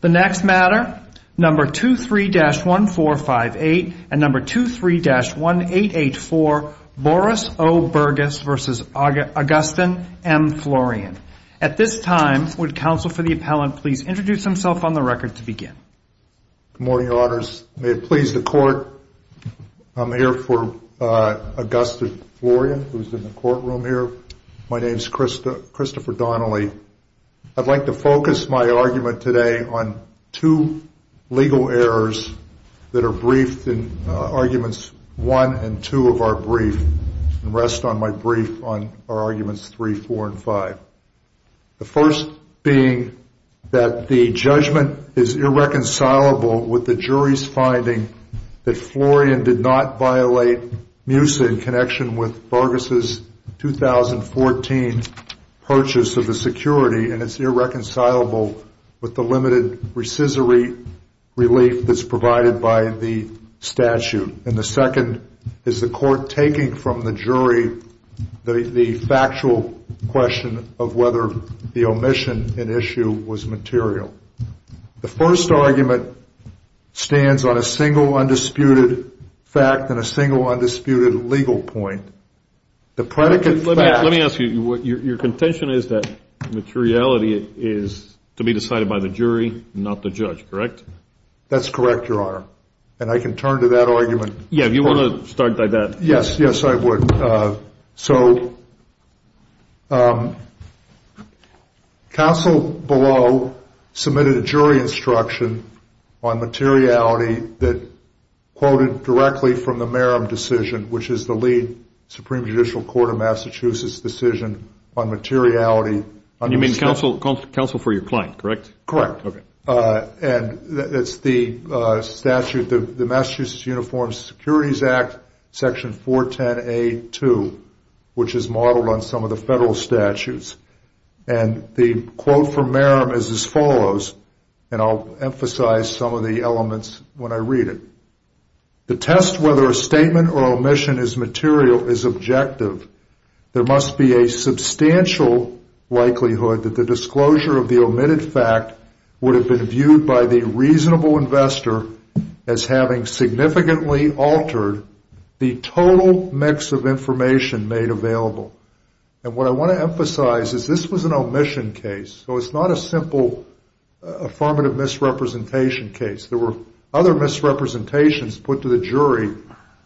The next matter, number 23-1458 and number 23-1884, Boris O. Burgus v. Augustin M. Florian. At this time, would counsel for the appellant please introduce himself on the record to begin. Good morning, your honors. May it please the court, I'm here for Augustin Florian, who's in the courtroom here. My name's Christopher Donnelly. I'd like to focus my argument today on two legal errors that are briefed in arguments 1 and 2 of our brief. And rest on my brief on our arguments 3, 4, and 5. The first being that the judgment is irreconcilable with the jury's finding that Florian did not violate MUSA in connection with Burgus' 2014 purchase of the security. And it's irreconcilable with the limited rescissory relief that's provided by the statute. And the second is the court taking from the jury the factual question of whether the omission in issue was material. The first argument stands on a single undisputed fact and a single undisputed legal point. The predicate fact... Let me ask you, your contention is that materiality is to be decided by the jury, not the judge, correct? That's correct, your honor. And I can turn to that argument. Yeah, you want to start by that? Yes, yes, I would. So, counsel below submitted a jury instruction on materiality that quoted directly from the Merrim decision, which is the lead Supreme Judicial Court of Massachusetts decision on materiality. And you mean counsel for your client, correct? Correct. And that's the statute, the Massachusetts Uniform Securities Act, section 410A2, which is modeled on some of the federal statutes. And the quote from Merrim is as follows, and I'll emphasize some of the elements when I read it. The test whether a statement or omission is material is objective. There must be a substantial likelihood that the disclosure of the omitted fact would have been viewed by the reasonable investor as having significantly altered the total mix of information made available. And what I want to emphasize is this was an omission case, so it's not a simple affirmative misrepresentation case. There were other misrepresentations put to the jury,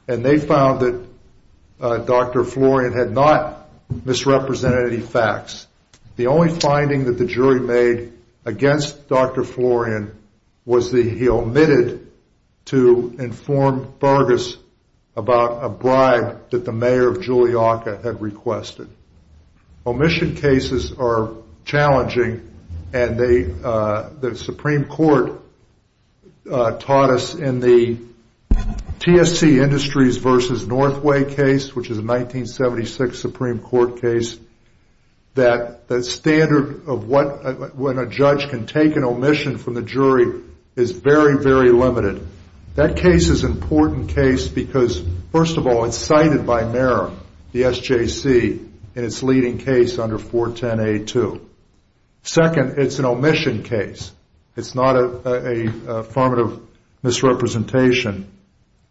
and they found that Dr. Florian had not misrepresented any facts. The only finding that the jury made against Dr. Florian was that he omitted to inform Vargas about a bribe that the mayor of Julliaca had requested. Omission cases are challenging, and the Supreme Court taught us in the TSC Industries v. Northway case, which is a 1976 Supreme Court case, that the standard of when a judge can take an omission from the jury is very, very limited. That case is an important case because, first of all, it's cited by Merrim, the SJC, in its leading case under 410A2. Second, it's an omission case. It's not an affirmative misrepresentation.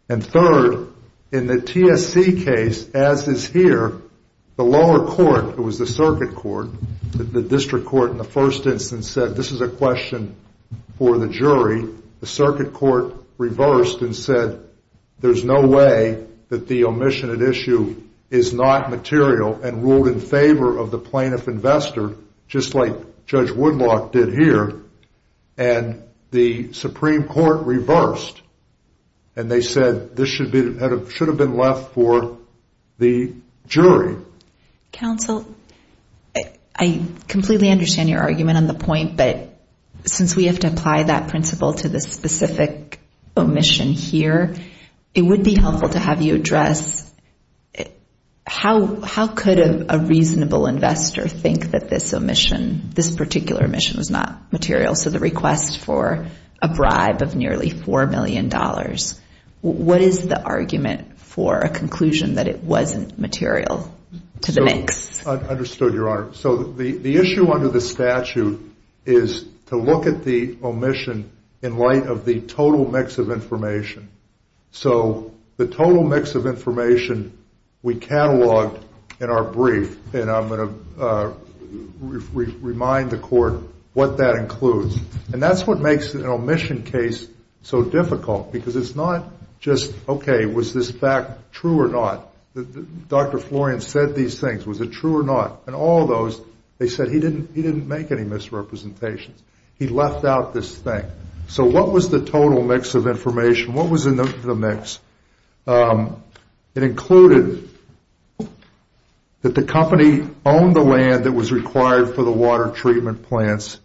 And third, in the TSC case, as is here, the lower court, it was the circuit court, the district court in the first instance, said this is a question for the jury. The circuit court reversed and said there's no way that the omission at issue is not material and ruled in favor of the plaintiff investor, just like Judge Woodlock did here. And the Supreme Court reversed, and they said this should have been left for the jury. Counsel, I completely understand your argument on the point, but since we have to apply that principle to the specific omission here, it would be helpful to have you address how could a reasonable investor think that this omission, this particular omission, was not material, so the request for a bribe of nearly $4 million, what is the argument for a conclusion that it wasn't material? I understood, Your Honor. So the issue under the statute is to look at the omission in light of the total mix of information. So the total mix of information we cataloged in our brief, and I'm going to remind the court what that includes. And that's what makes an omission case so difficult, because it's not just, okay, was this fact true or not? Dr. Florian said these things, was it true or not? In all those, they said he didn't make any misrepresentations. He left out this thing. So what was the total mix of information? What was in the mix? It included that the company owned the land that was required for the water treatment plants.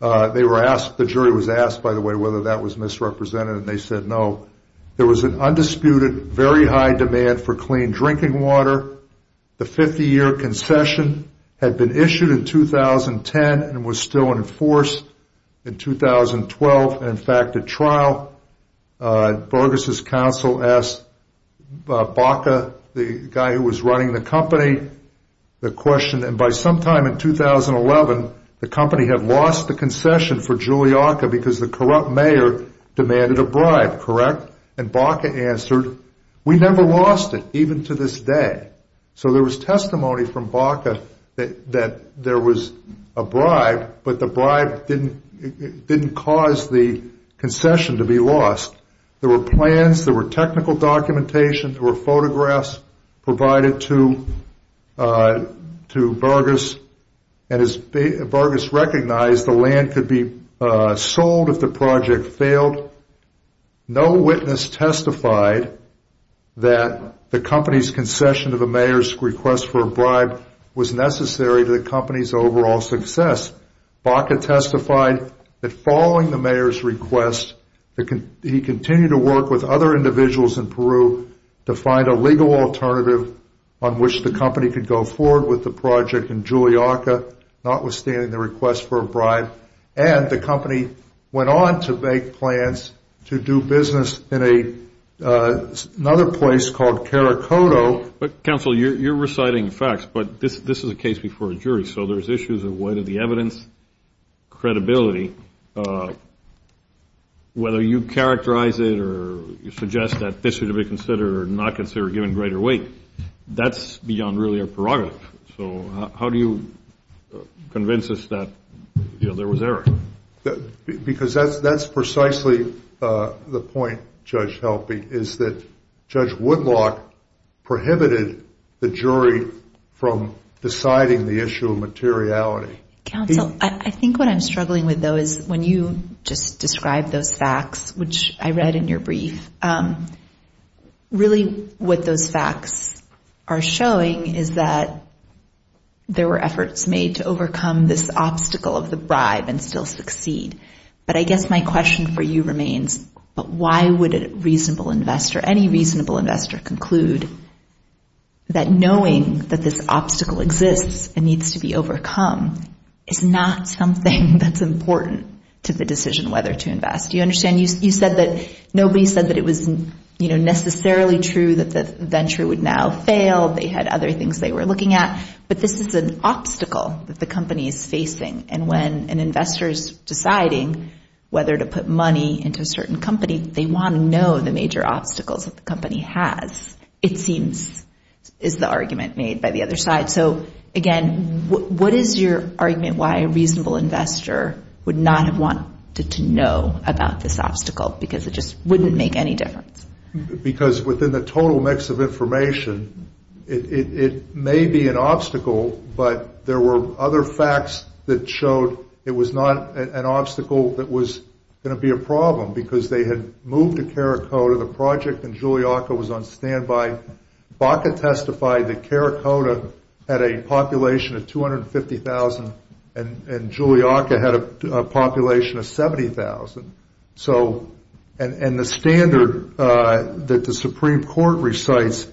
They were asked, the jury was asked, by the way, whether that was misrepresented, and they said no. There was an undisputed, very high demand for clean drinking water. The 50-year concession had been issued in 2010 and was still in force in 2012 and, in fact, at trial. Borges' counsel asked Baca, the guy who was running the company, the question. And by sometime in 2011, the company had lost the concession for Juliaca because the corrupt mayor demanded a bribe, correct? And Baca answered, we never lost it, even to this day. So there was testimony from Baca that there was a bribe, but the bribe didn't cause the concession to be lost. There were plans, there were technical documentation, there were photographs provided to Borges, and as Borges recognized, the land could be sold if the project failed. No witness testified that the company's concession to the mayor's request for a bribe was necessary to the company's overall success. Baca testified that following the mayor's request, he continued to work with other individuals in Peru to find a legal alternative on which the company could go forward with the project in Juliaca, notwithstanding the request for a bribe. And the company went on to make plans to do business in another place called Caracoto. Counsel, you're reciting facts, but this is a case before a jury, so there's issues of weight of the evidence, credibility. Whether you characterize it or suggest that this should be considered or not considered or given greater weight, that's beyond really our prerogative. So how do you convince us that there was error? Because that's precisely the point, Judge Helpe, is that Judge Woodlock prohibited the jury from deciding the issue of materiality. Counsel, I think what I'm struggling with, though, is when you just described those facts, which I read in your brief, really what those facts are showing is that there were efforts made to overcome this obstacle of the bribe and still succeed. But I guess my question for you remains, but why would a reasonable investor, any reasonable investor conclude that knowing that this obstacle exists and needs to be overcome is not something that's important to the decision whether to invest? Do you understand? You said that nobody said that it was necessarily true that the venture would now fail. They had other things they were looking at. But this is an obstacle that the company is facing. And when an investor is deciding whether to put money into a certain company, they want to know the major obstacles that the company has, it seems, is the argument made by the other side. So, again, what is your argument why a reasonable investor would not have wanted to know about this obstacle? Because it just wouldn't make any difference. Because within the total mix of information, it may be an obstacle, but there were other facts that showed it was not an obstacle that was going to be a problem, because they had moved to Caracoda. The project in Juliaca was on standby. Baca testified that Caracoda had a population of 250,000 and Juliaca had a population of 70,000. And the standard that the Supreme Court recites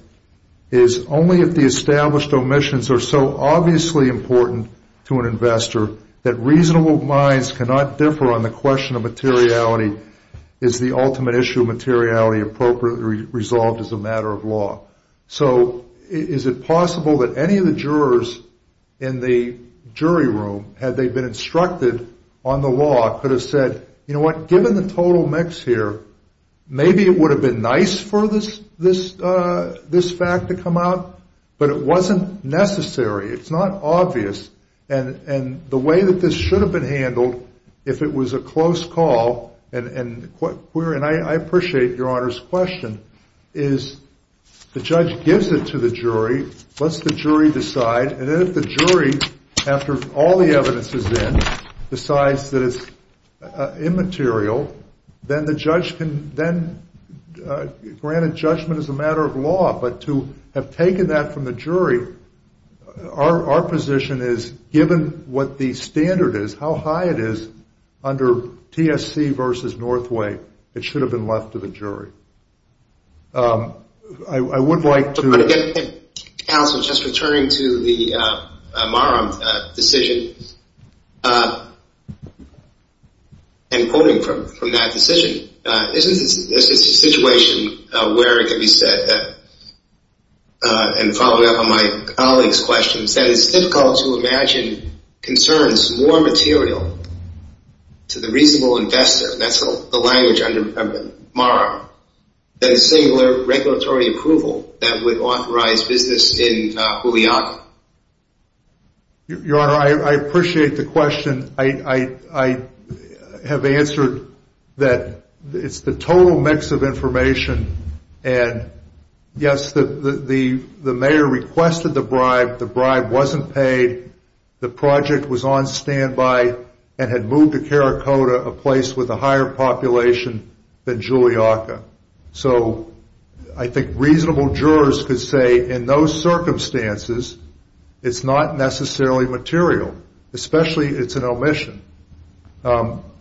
is only if the established omissions are so obviously important to an investor that reasonable minds cannot differ on the question of materiality is the ultimate issue of materiality appropriately resolved as a matter of law. So is it possible that any of the jurors in the jury room, had they been instructed on the law, could have said, you know what, given the total mix here, maybe it would have been nice for this fact to come out, but it wasn't necessary, it's not obvious, and the way that this should have been handled, if it was a close call, and I appreciate your Honor's question, is the judge gives it to the jury, lets the jury decide, and then if the jury, after all the evidence is in, decides that it's immaterial, then the judge can, granted judgment is a matter of law, but to have taken that from the jury, our position is given what the standard is, how high it is under TSC versus Northway, it should have been left to the jury. I would like to... Counsel, just returning to the Marum decision, and quoting from that decision, isn't this a situation where it could be said, and following up on my colleague's question, that it's difficult to imagine concerns more material to the reasonable investor, that's the language under Marum, than singular regulatory approval, that would authorize business in Juliana. Your Honor, I appreciate the question, I have answered that it's the total mix of information, and yes, the mayor requested the bribe, the bribe wasn't paid, the project was on standby, and had moved to Caracotta, a place with a higher population than Juliana, so I think reasonable jurors could say in those circumstances, it's not necessarily material, especially it's an omission.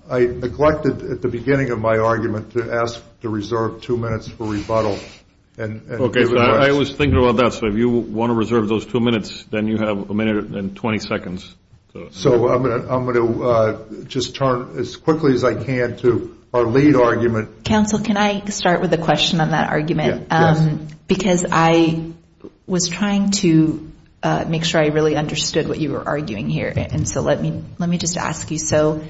I neglected at the beginning of my argument to ask to reserve two minutes for rebuttal. Okay, I was thinking about that, so if you want to reserve those two minutes, then you have a minute and 20 seconds. So I'm going to just turn as quickly as I can to our lead argument. Counsel, can I start with a question on that argument? Because I was trying to make sure I really understood what you were arguing here, and so let me just ask you, so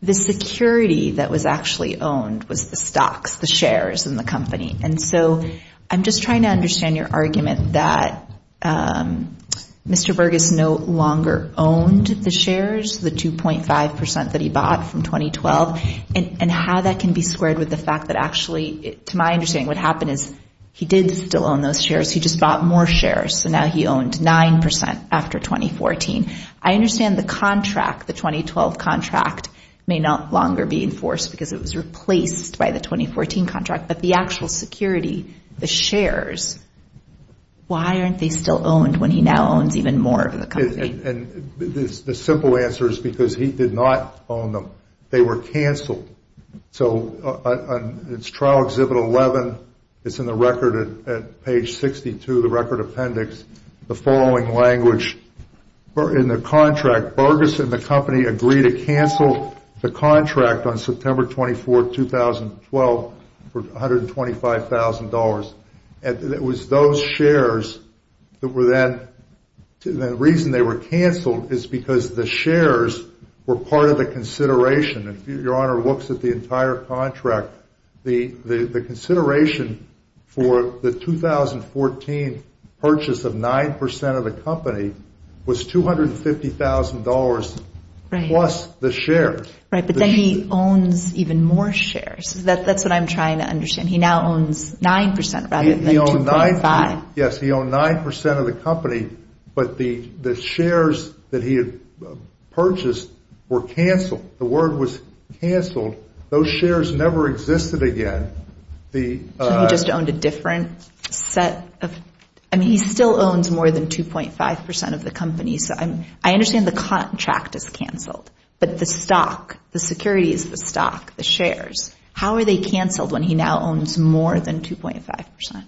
the security that was actually owned was the stocks, the shares in the company, and so I'm just trying to understand your argument that Mr. Bergus no longer owned the shares, the 2.5% that he bought from 2012, and how that can be squared with the fact that actually, to my understanding, what happened is he did still own those shares, he just bought more shares, so now he owned 9% after 2014. I understand the contract, the 2012 contract, may no longer be enforced because it was replaced by the 2014 contract, but the actual security, the shares, why aren't they still owned when he now owns even more of the company? And the simple answer is because he did not own them. They were canceled, so it's Trial Exhibit 11, it's in the record at page 62, the record appendix, the following language, in the contract, Bergus and the company agreed to cancel the contract on September 24, 2012, for $125,000, and it was those shares that were then, the reason they were canceled is because the shares were part of the consideration, if your honor looks at the entire contract, the consideration for the 2014 purchase of 9% of the company was $250,000 plus the shares. Right, but then he owns even more shares, that's what I'm trying to understand, he now owns 9% rather than 2.5. Yes, he owned 9% of the company, but the shares that he had purchased were canceled. The word was canceled, those shares never existed again. So he just owned a different set of, I mean, he still owns more than 2.5% of the company, so I understand the contract is canceled, but the stock, the securities, the stock, the shares, how are they canceled when he now owns more than 2.5%,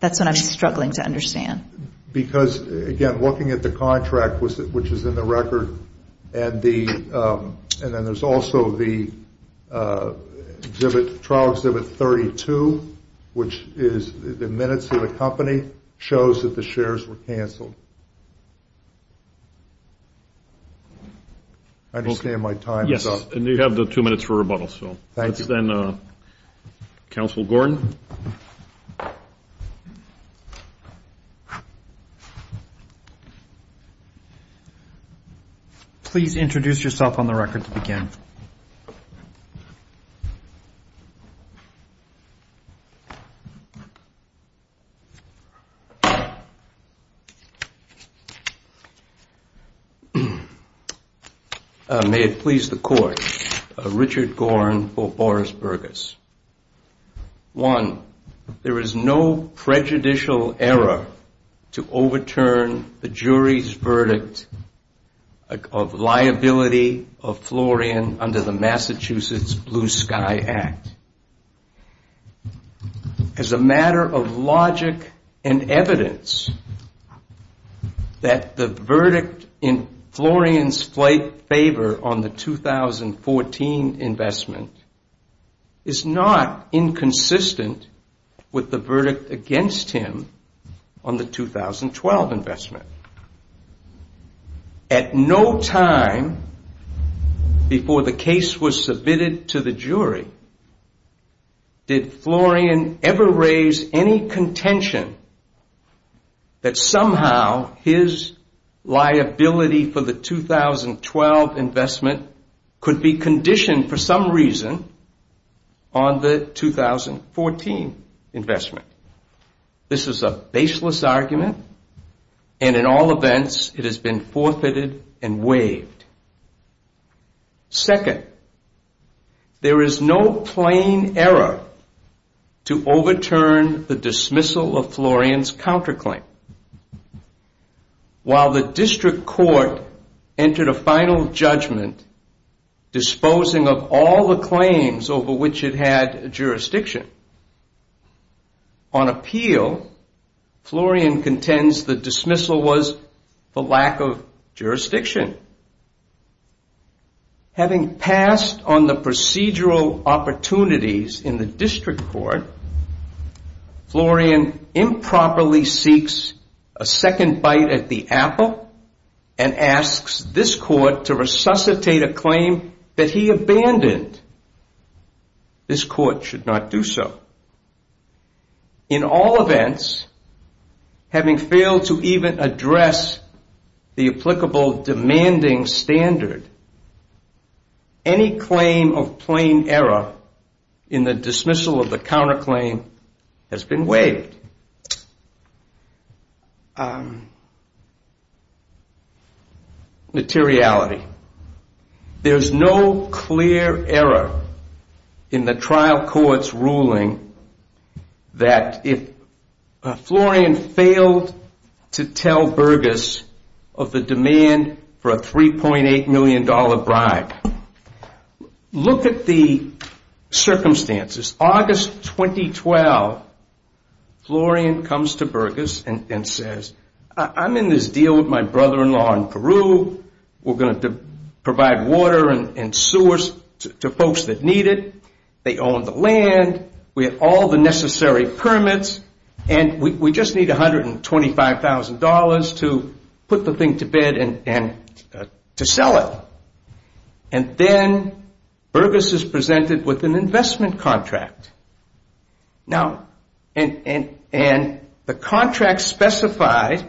that's what I'm struggling to understand. Because, again, looking at the contract, which is in the record, and then there's also the trial exhibit 32, which is the minutes of the company, shows that the shares were canceled. I understand my time is up. Yes, and you have the two minutes for rebuttal. Thank you. Please introduce yourself on the record to begin. May it please the court. Richard Gorin for Boris Burgess. One, there is no prejudicial error to overturn the jury's verdict of liability of Florian under the Massachusetts Blue Sky Act. As a matter of logic and evidence, that the verdict in Florian's favor on the 2014 investment is not inconsistent with the verdict against him on the 2012 investment. At no time before the case was submitted to the jury, did Florian ever raise any contention that somehow his liability for the 2012 investment could be conditioned for some reason on the 2014 investment. This is a baseless argument, and in all events, it has been forfeited and waived. Second, there is no plain error to overturn the dismissal of Florian's counterclaim. While the district court entered a final judgment disposing of all the claims over which it had jurisdiction, on appeal, Florian contends the dismissal was for lack of jurisdiction. Having passed on the procedural opportunities in the district court, Florian improperly seeks a second bite at the apple and asks this court to resuscitate a claim that he abandoned. This court should not do so. In all events, having failed to even address the applicable demanding standard, any claim of plain error in the dismissal of the counterclaim has been waived. Materiality. There's no clear error in the trial court's ruling that if Florian failed to tell Burgess of the demand for a $3.8 million bribe, look at the circumstances. August 2012, Florian comes to Burgess and says, I'm in this deal with my brother-in-law in Peru. We're going to provide water and sewers to folks that need it. They own the land. We have all the necessary permits, and we just need $125,000 to put the thing to bed and to sell it. And then Burgess is presented with an investment contract. Now, and the contract specified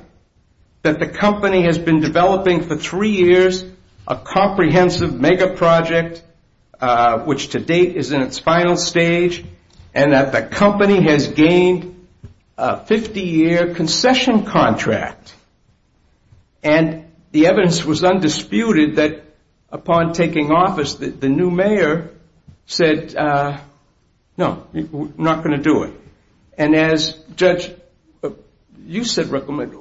that the company has been developing for three years a comprehensive mega project, which to date is in its final stage, and that the company has gained a 50-year concession contract. And the evidence was undisputed that upon taking office, the new mayor said, no, no, no, no. We're not going to do it. And as, Judge, you said recommend,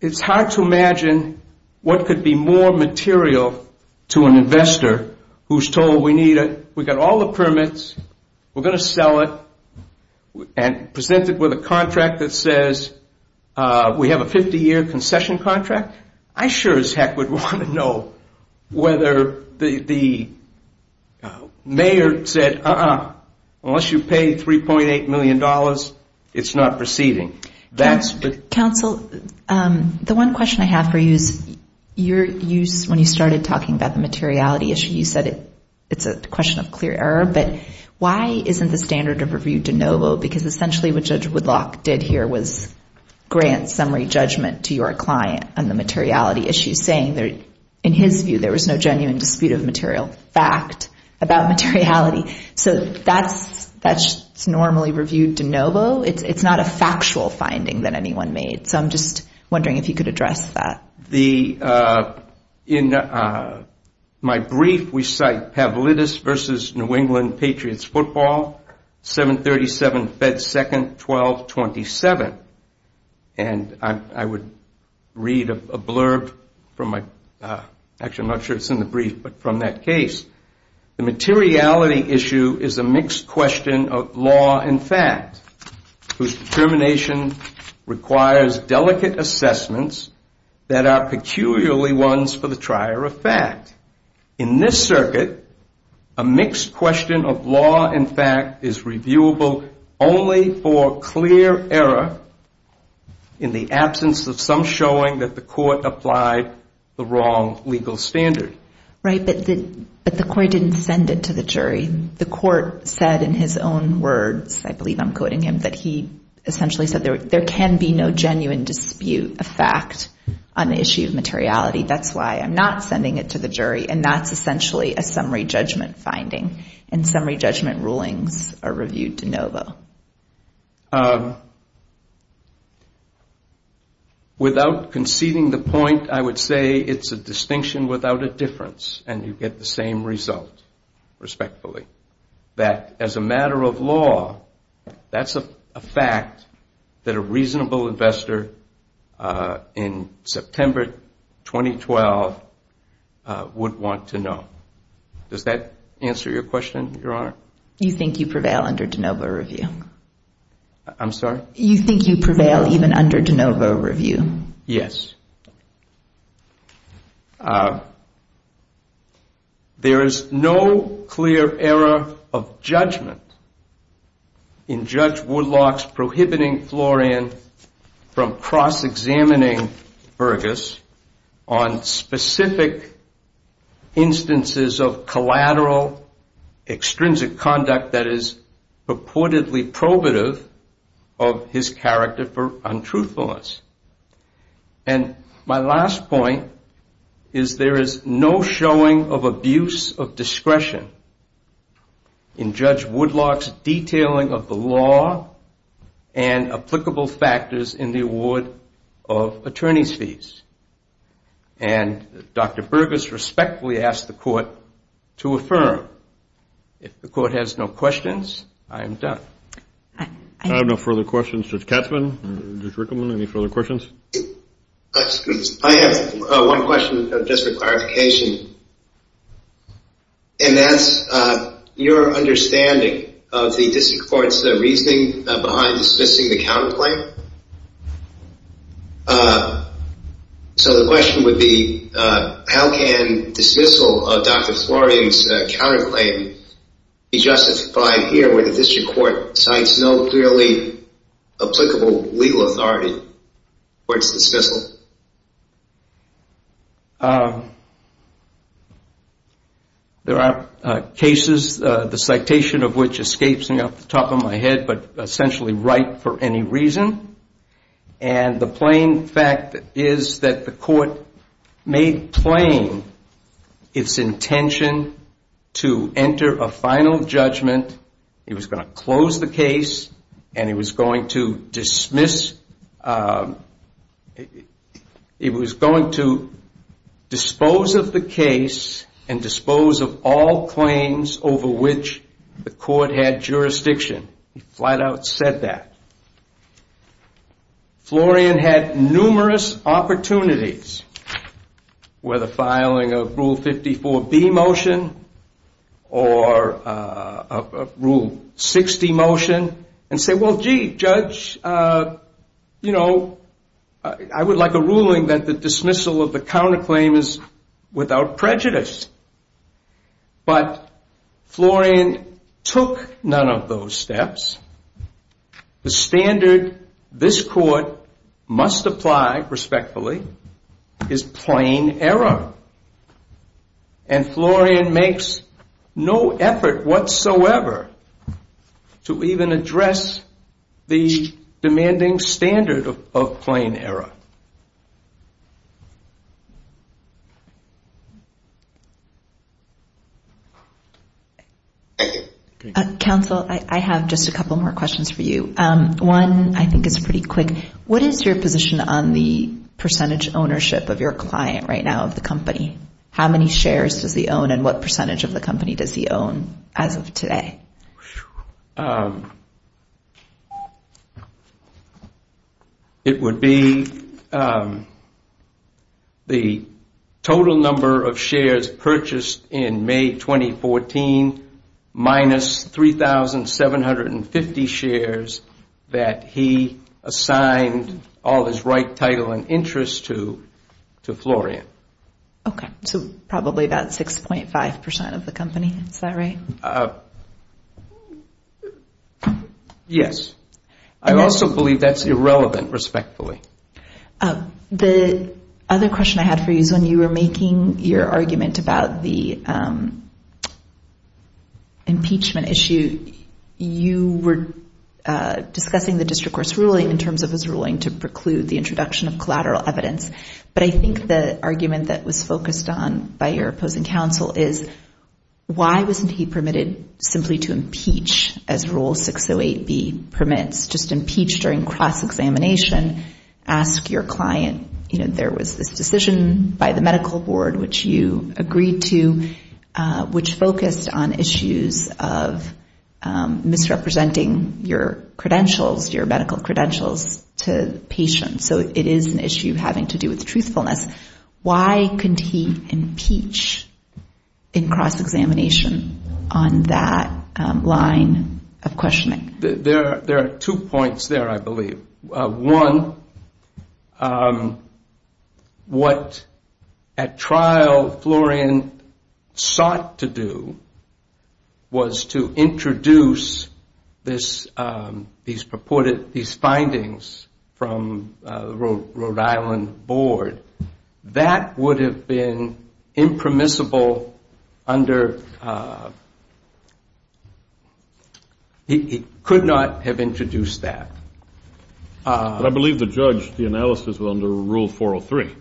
it's hard to imagine what could be more material to an investor who's told we need it. We've got all the permits. We're going to sell it and present it with a contract that says we have a 50-year concession contract. I sure as heck would want to know whether the mayor said, uh-uh, unless you pay $3.8 million, it's not proceeding. That's the question. Counsel, the one question I have for you is your use when you started talking about the materiality issue, you said it's a question of clear error, but why isn't the standard of review de novo? Because essentially what Judge Woodlock did here was grant summary judgment to your client on the materiality issue, saying in his view there was no genuine dispute of material fact about materiality. So that's normally reviewed de novo. It's not a factual finding that anyone made. So I'm just wondering if you could address that. In my brief, we cite Pavlidis v. New England Patriots Football, 737 Fed 2nd, 1227. And I would read a blurb from my, actually I'm not sure it's in the brief, but from that case. The materiality issue is a mixed question of law and fact, whose determination requires a clear error. It requires delicate assessments that are peculiarly ones for the trier of fact. In this circuit, a mixed question of law and fact is reviewable only for clear error in the absence of some showing that the court applied the wrong legal standard. Right, but the court didn't send it to the jury. The court said in his own words, I believe I'm quoting him, that he essentially said there can be no genuine dispute of fact on the issue of materiality. That's why I'm not sending it to the jury, and that's essentially a summary judgment finding. And summary judgment rulings are reviewed de novo. Without conceding the point, I would say it's a distinction without a difference, and you get the same result, respectfully. That as a matter of law, that's a fact that a reasonable investor in September 2012 would want to know. Does that answer your question, Your Honor? You think you prevail even under de novo review? Yes. There is no clear error of judgment in Judge Woodlock's prohibiting Florian from cross-examining Burgess on specific instances of collateral extrinsic conduct that is purportedly probative of his character for untruthfulness. And my last point is there is no showing of abuse of discretion in Judge Woodlock's detailing of the law and applicable factors in the award of attorney's fees. And Dr. Burgess respectfully asked the court to affirm. If the court has no questions, I am done. I have one question, just for clarification. And that's your understanding of the district court's reasoning behind dismissing the counterclaim? So the question would be, how can dismissal of Dr. Florian's counterclaim be justified here where the district court cites no clearly applicable legal authority towards dismissal? There are cases, the citation of which escapes me off the top of my head, but essentially right for any reason. And the plain fact is that the court made plain its intention to enter a final judgment. It was going to close the case, and it was going to dismiss, it was going to dispose of the case and dispose of all claims over which the court had jurisdiction. It flat out said that. Florian had numerous opportunities, whether filing a Rule 54B motion or a court order. Rule 60 motion, and say, well, gee, Judge, I would like a ruling that the dismissal of the counterclaim is without prejudice. But Florian took none of those steps. The standard this court must apply, respectfully, is plain error. And Florian makes no effort whatsoever to even address the demanding standard of plain error. Counsel, I have just a couple more questions for you. One, I think, is pretty quick. What is your position on the percentage ownership of your client right now, of the company? How many shares does he own, and what percentage of the company does he own as of today? It would be the total number of shares purchased in May 2014 minus 3,750 shares. That he assigned all of his right, title, and interest to Florian. Okay. So probably about 6.5% of the company. Is that right? Yes. I also believe that's irrelevant, respectfully. The other question I had for you is when you were making your argument about the impeachment issue, you were discussing the district court's ruling in terms of his ruling to preclude the introduction of collateral evidence. But I think the argument that was focused on by your opposing counsel is, why wasn't he permitted simply to impeach as Rule 608B permits? Just impeach during cross-examination. Ask your client, there was this decision by the medical board which you agreed to, which focused on issues of misrepresenting your credentials, your medical credentials to patients. So it is an issue having to do with truthfulness. Why couldn't he impeach in cross-examination on that line of questioning? There are two points there, I believe. One, what at trial Florian sought to do, was to introduce these findings from the Rhode Island board. That would have been impermissible under, he could not have introduced that. I believe the judge, the analysis was under Rule 403.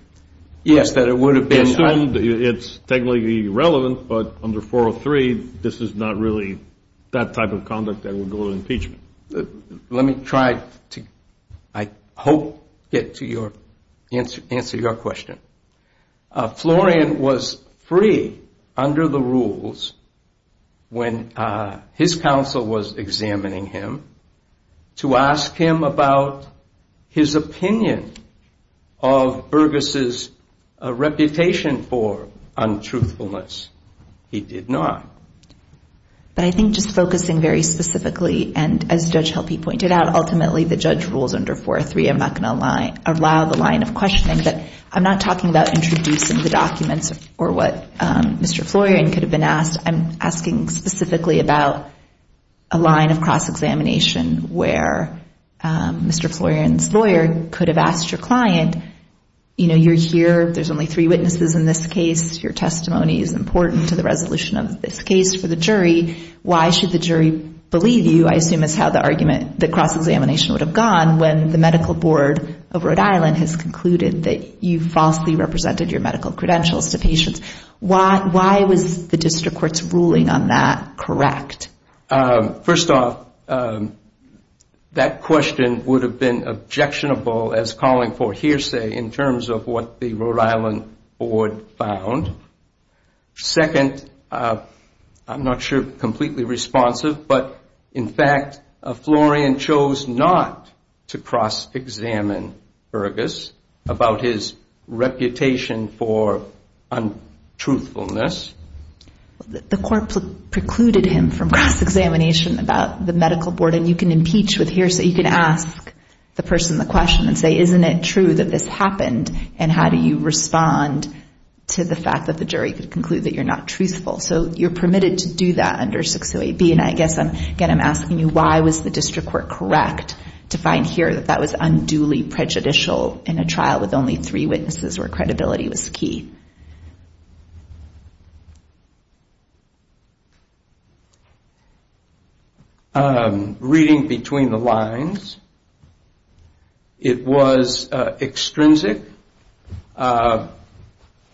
It's technically irrelevant, but under 403 this is not really that type of conduct that would go to impeachment. Let me try to, I hope, get to your, answer your question. Florian was free under the rules when his counsel was examining him, to ask him about his opinion of Burgess' reputation for untruthfulness. He did not. But I think just focusing very specifically, and as Judge Helpe pointed out, I'm not talking about introducing the documents or what Mr. Florian could have been asked. I'm asking specifically about a line of cross-examination where Mr. Florian's lawyer could have asked your client, you're here, there's only three witnesses in this case, your testimony is important to the resolution of this case. For the jury, why should the jury believe you, I assume is how the cross-examination would have gone, when the medical board of Rhode Island has concluded that you falsely represented your medical credentials to patients. Why was the district court's ruling on that correct? First off, that question would have been objectionable as calling for hearsay in terms of what the Rhode Island board found. Second, I'm not sure completely responsive, but in fact, Florian chose not to cross-examine Burgess about his reputation for untruthfulness. The court precluded him from cross-examination about the medical board, and you can impeach with hearsay. You can ask the person the question and say, isn't it true that this happened? And how do you respond to the fact that the jury could conclude that you're not truthful? So you're permitted to do that under 608B. And I guess, again, I'm asking you, why was the district court correct to find here that that was unduly prejudicial in a trial with only three witnesses where credibility was key? Reading between the lines, it was extrinsic.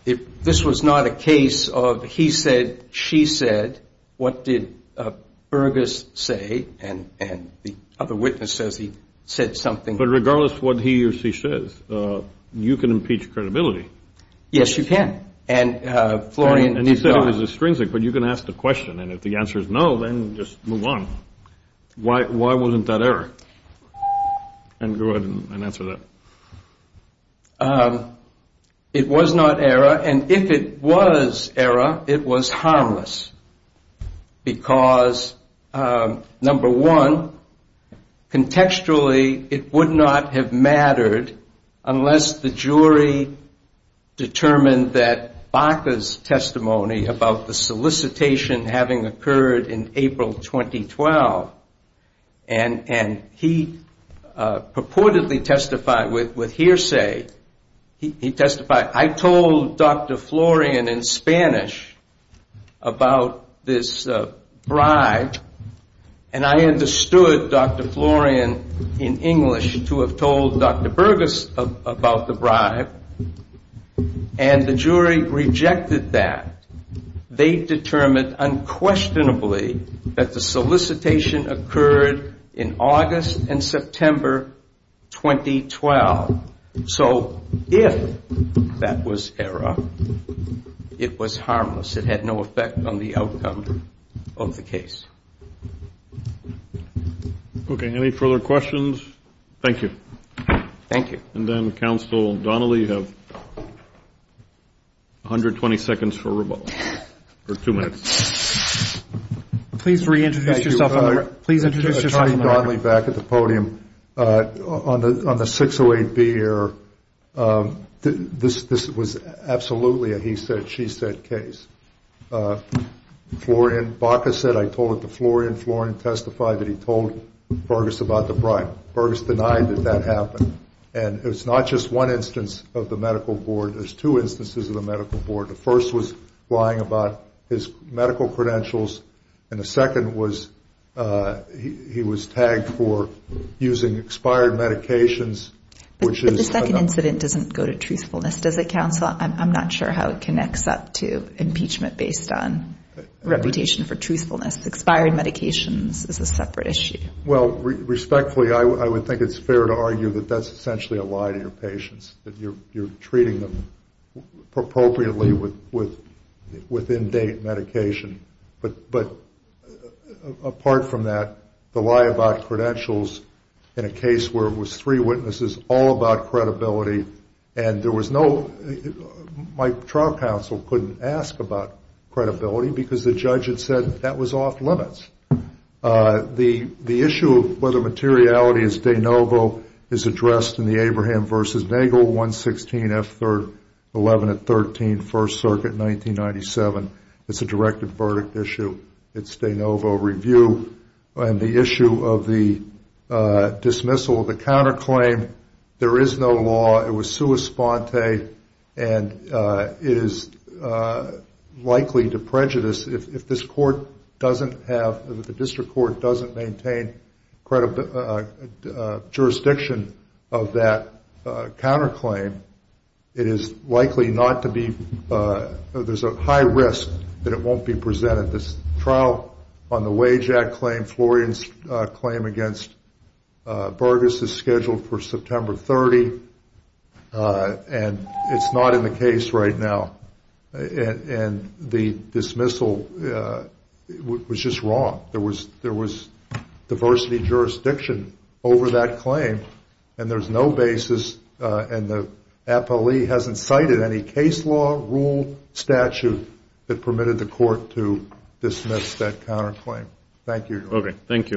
This was not a case of he said, she said, what did Burgess say, and the other witness says he said something. But regardless of what he or she says, you can impeach credibility. Yes, you can. And Florian. And he said it was extrinsic, but you can ask the question, and if the answer is no, then just move on. Why wasn't that error? And go ahead and answer that. It was not error, and if it was error, it was harmless. Because, number one, contextually, it would not have mattered unless the jury determined that Baca's testimony was true. He testified in his testimony about the solicitation having occurred in April 2012. And he purportedly testified with hearsay. He testified, I told Dr. Florian in Spanish about this bribe, and I understood Dr. Florian in English to have told Dr. Burgess about the bribe, and the jury rejected that. They determined unquestionably that the solicitation occurred in August and September 2012. So if that was error, it was harmless. It had no effect on the outcome of the case. Okay. Any further questions? Thank you. And then Counsel Donnelly, you have 120 seconds for rebuttal, or two minutes. Please reintroduce yourself on the record. Charlie Donnelly back at the podium. On the 608B error, this was absolutely a he said, she said case. Florian Baca said I told it to Florian, Florian testified that he told Burgess about the bribe. Burgess denied that that happened. And it's not just one instance of the medical board. There's two instances of the medical board. The first was lying about his medical credentials, and the second was he was tagged for using expired medications. But the second incident doesn't go to truthfulness. Does it, Counsel? I'm not sure how it connects up to impeachment based on reputation for truthfulness. Expired medications is a separate issue. Well, respectfully, I would think it's fair to argue that that's essentially a lie to your patients, that you're treating them appropriately with in-date medication. But apart from that, the lie about credentials in a case where it was three witnesses all about credibility, and there was no, my trial counsel couldn't ask about credibility, because the judge had said that was off-limits. The issue of whether materiality is de novo is addressed in the Abraham v. Nagle 116 F-11 at 13 First Circuit, 1997. It's a directive verdict issue. It's de novo review, and the issue of the dismissal of the counterclaim, there is no law, it was sua sponte, and it is likely to prejudice. If the district court doesn't maintain jurisdiction of that counterclaim, it is likely not to be, there's a high risk that it won't be presented. The trial on the wage act claim, Florian's claim against Burgess is scheduled for September 30, and it's not in the case right now. And the dismissal was just wrong. There was diversity jurisdiction over that claim, and there's no basis, and the appellee hasn't cited any case law, rule, statute that permitted the court to dismiss that counterclaim.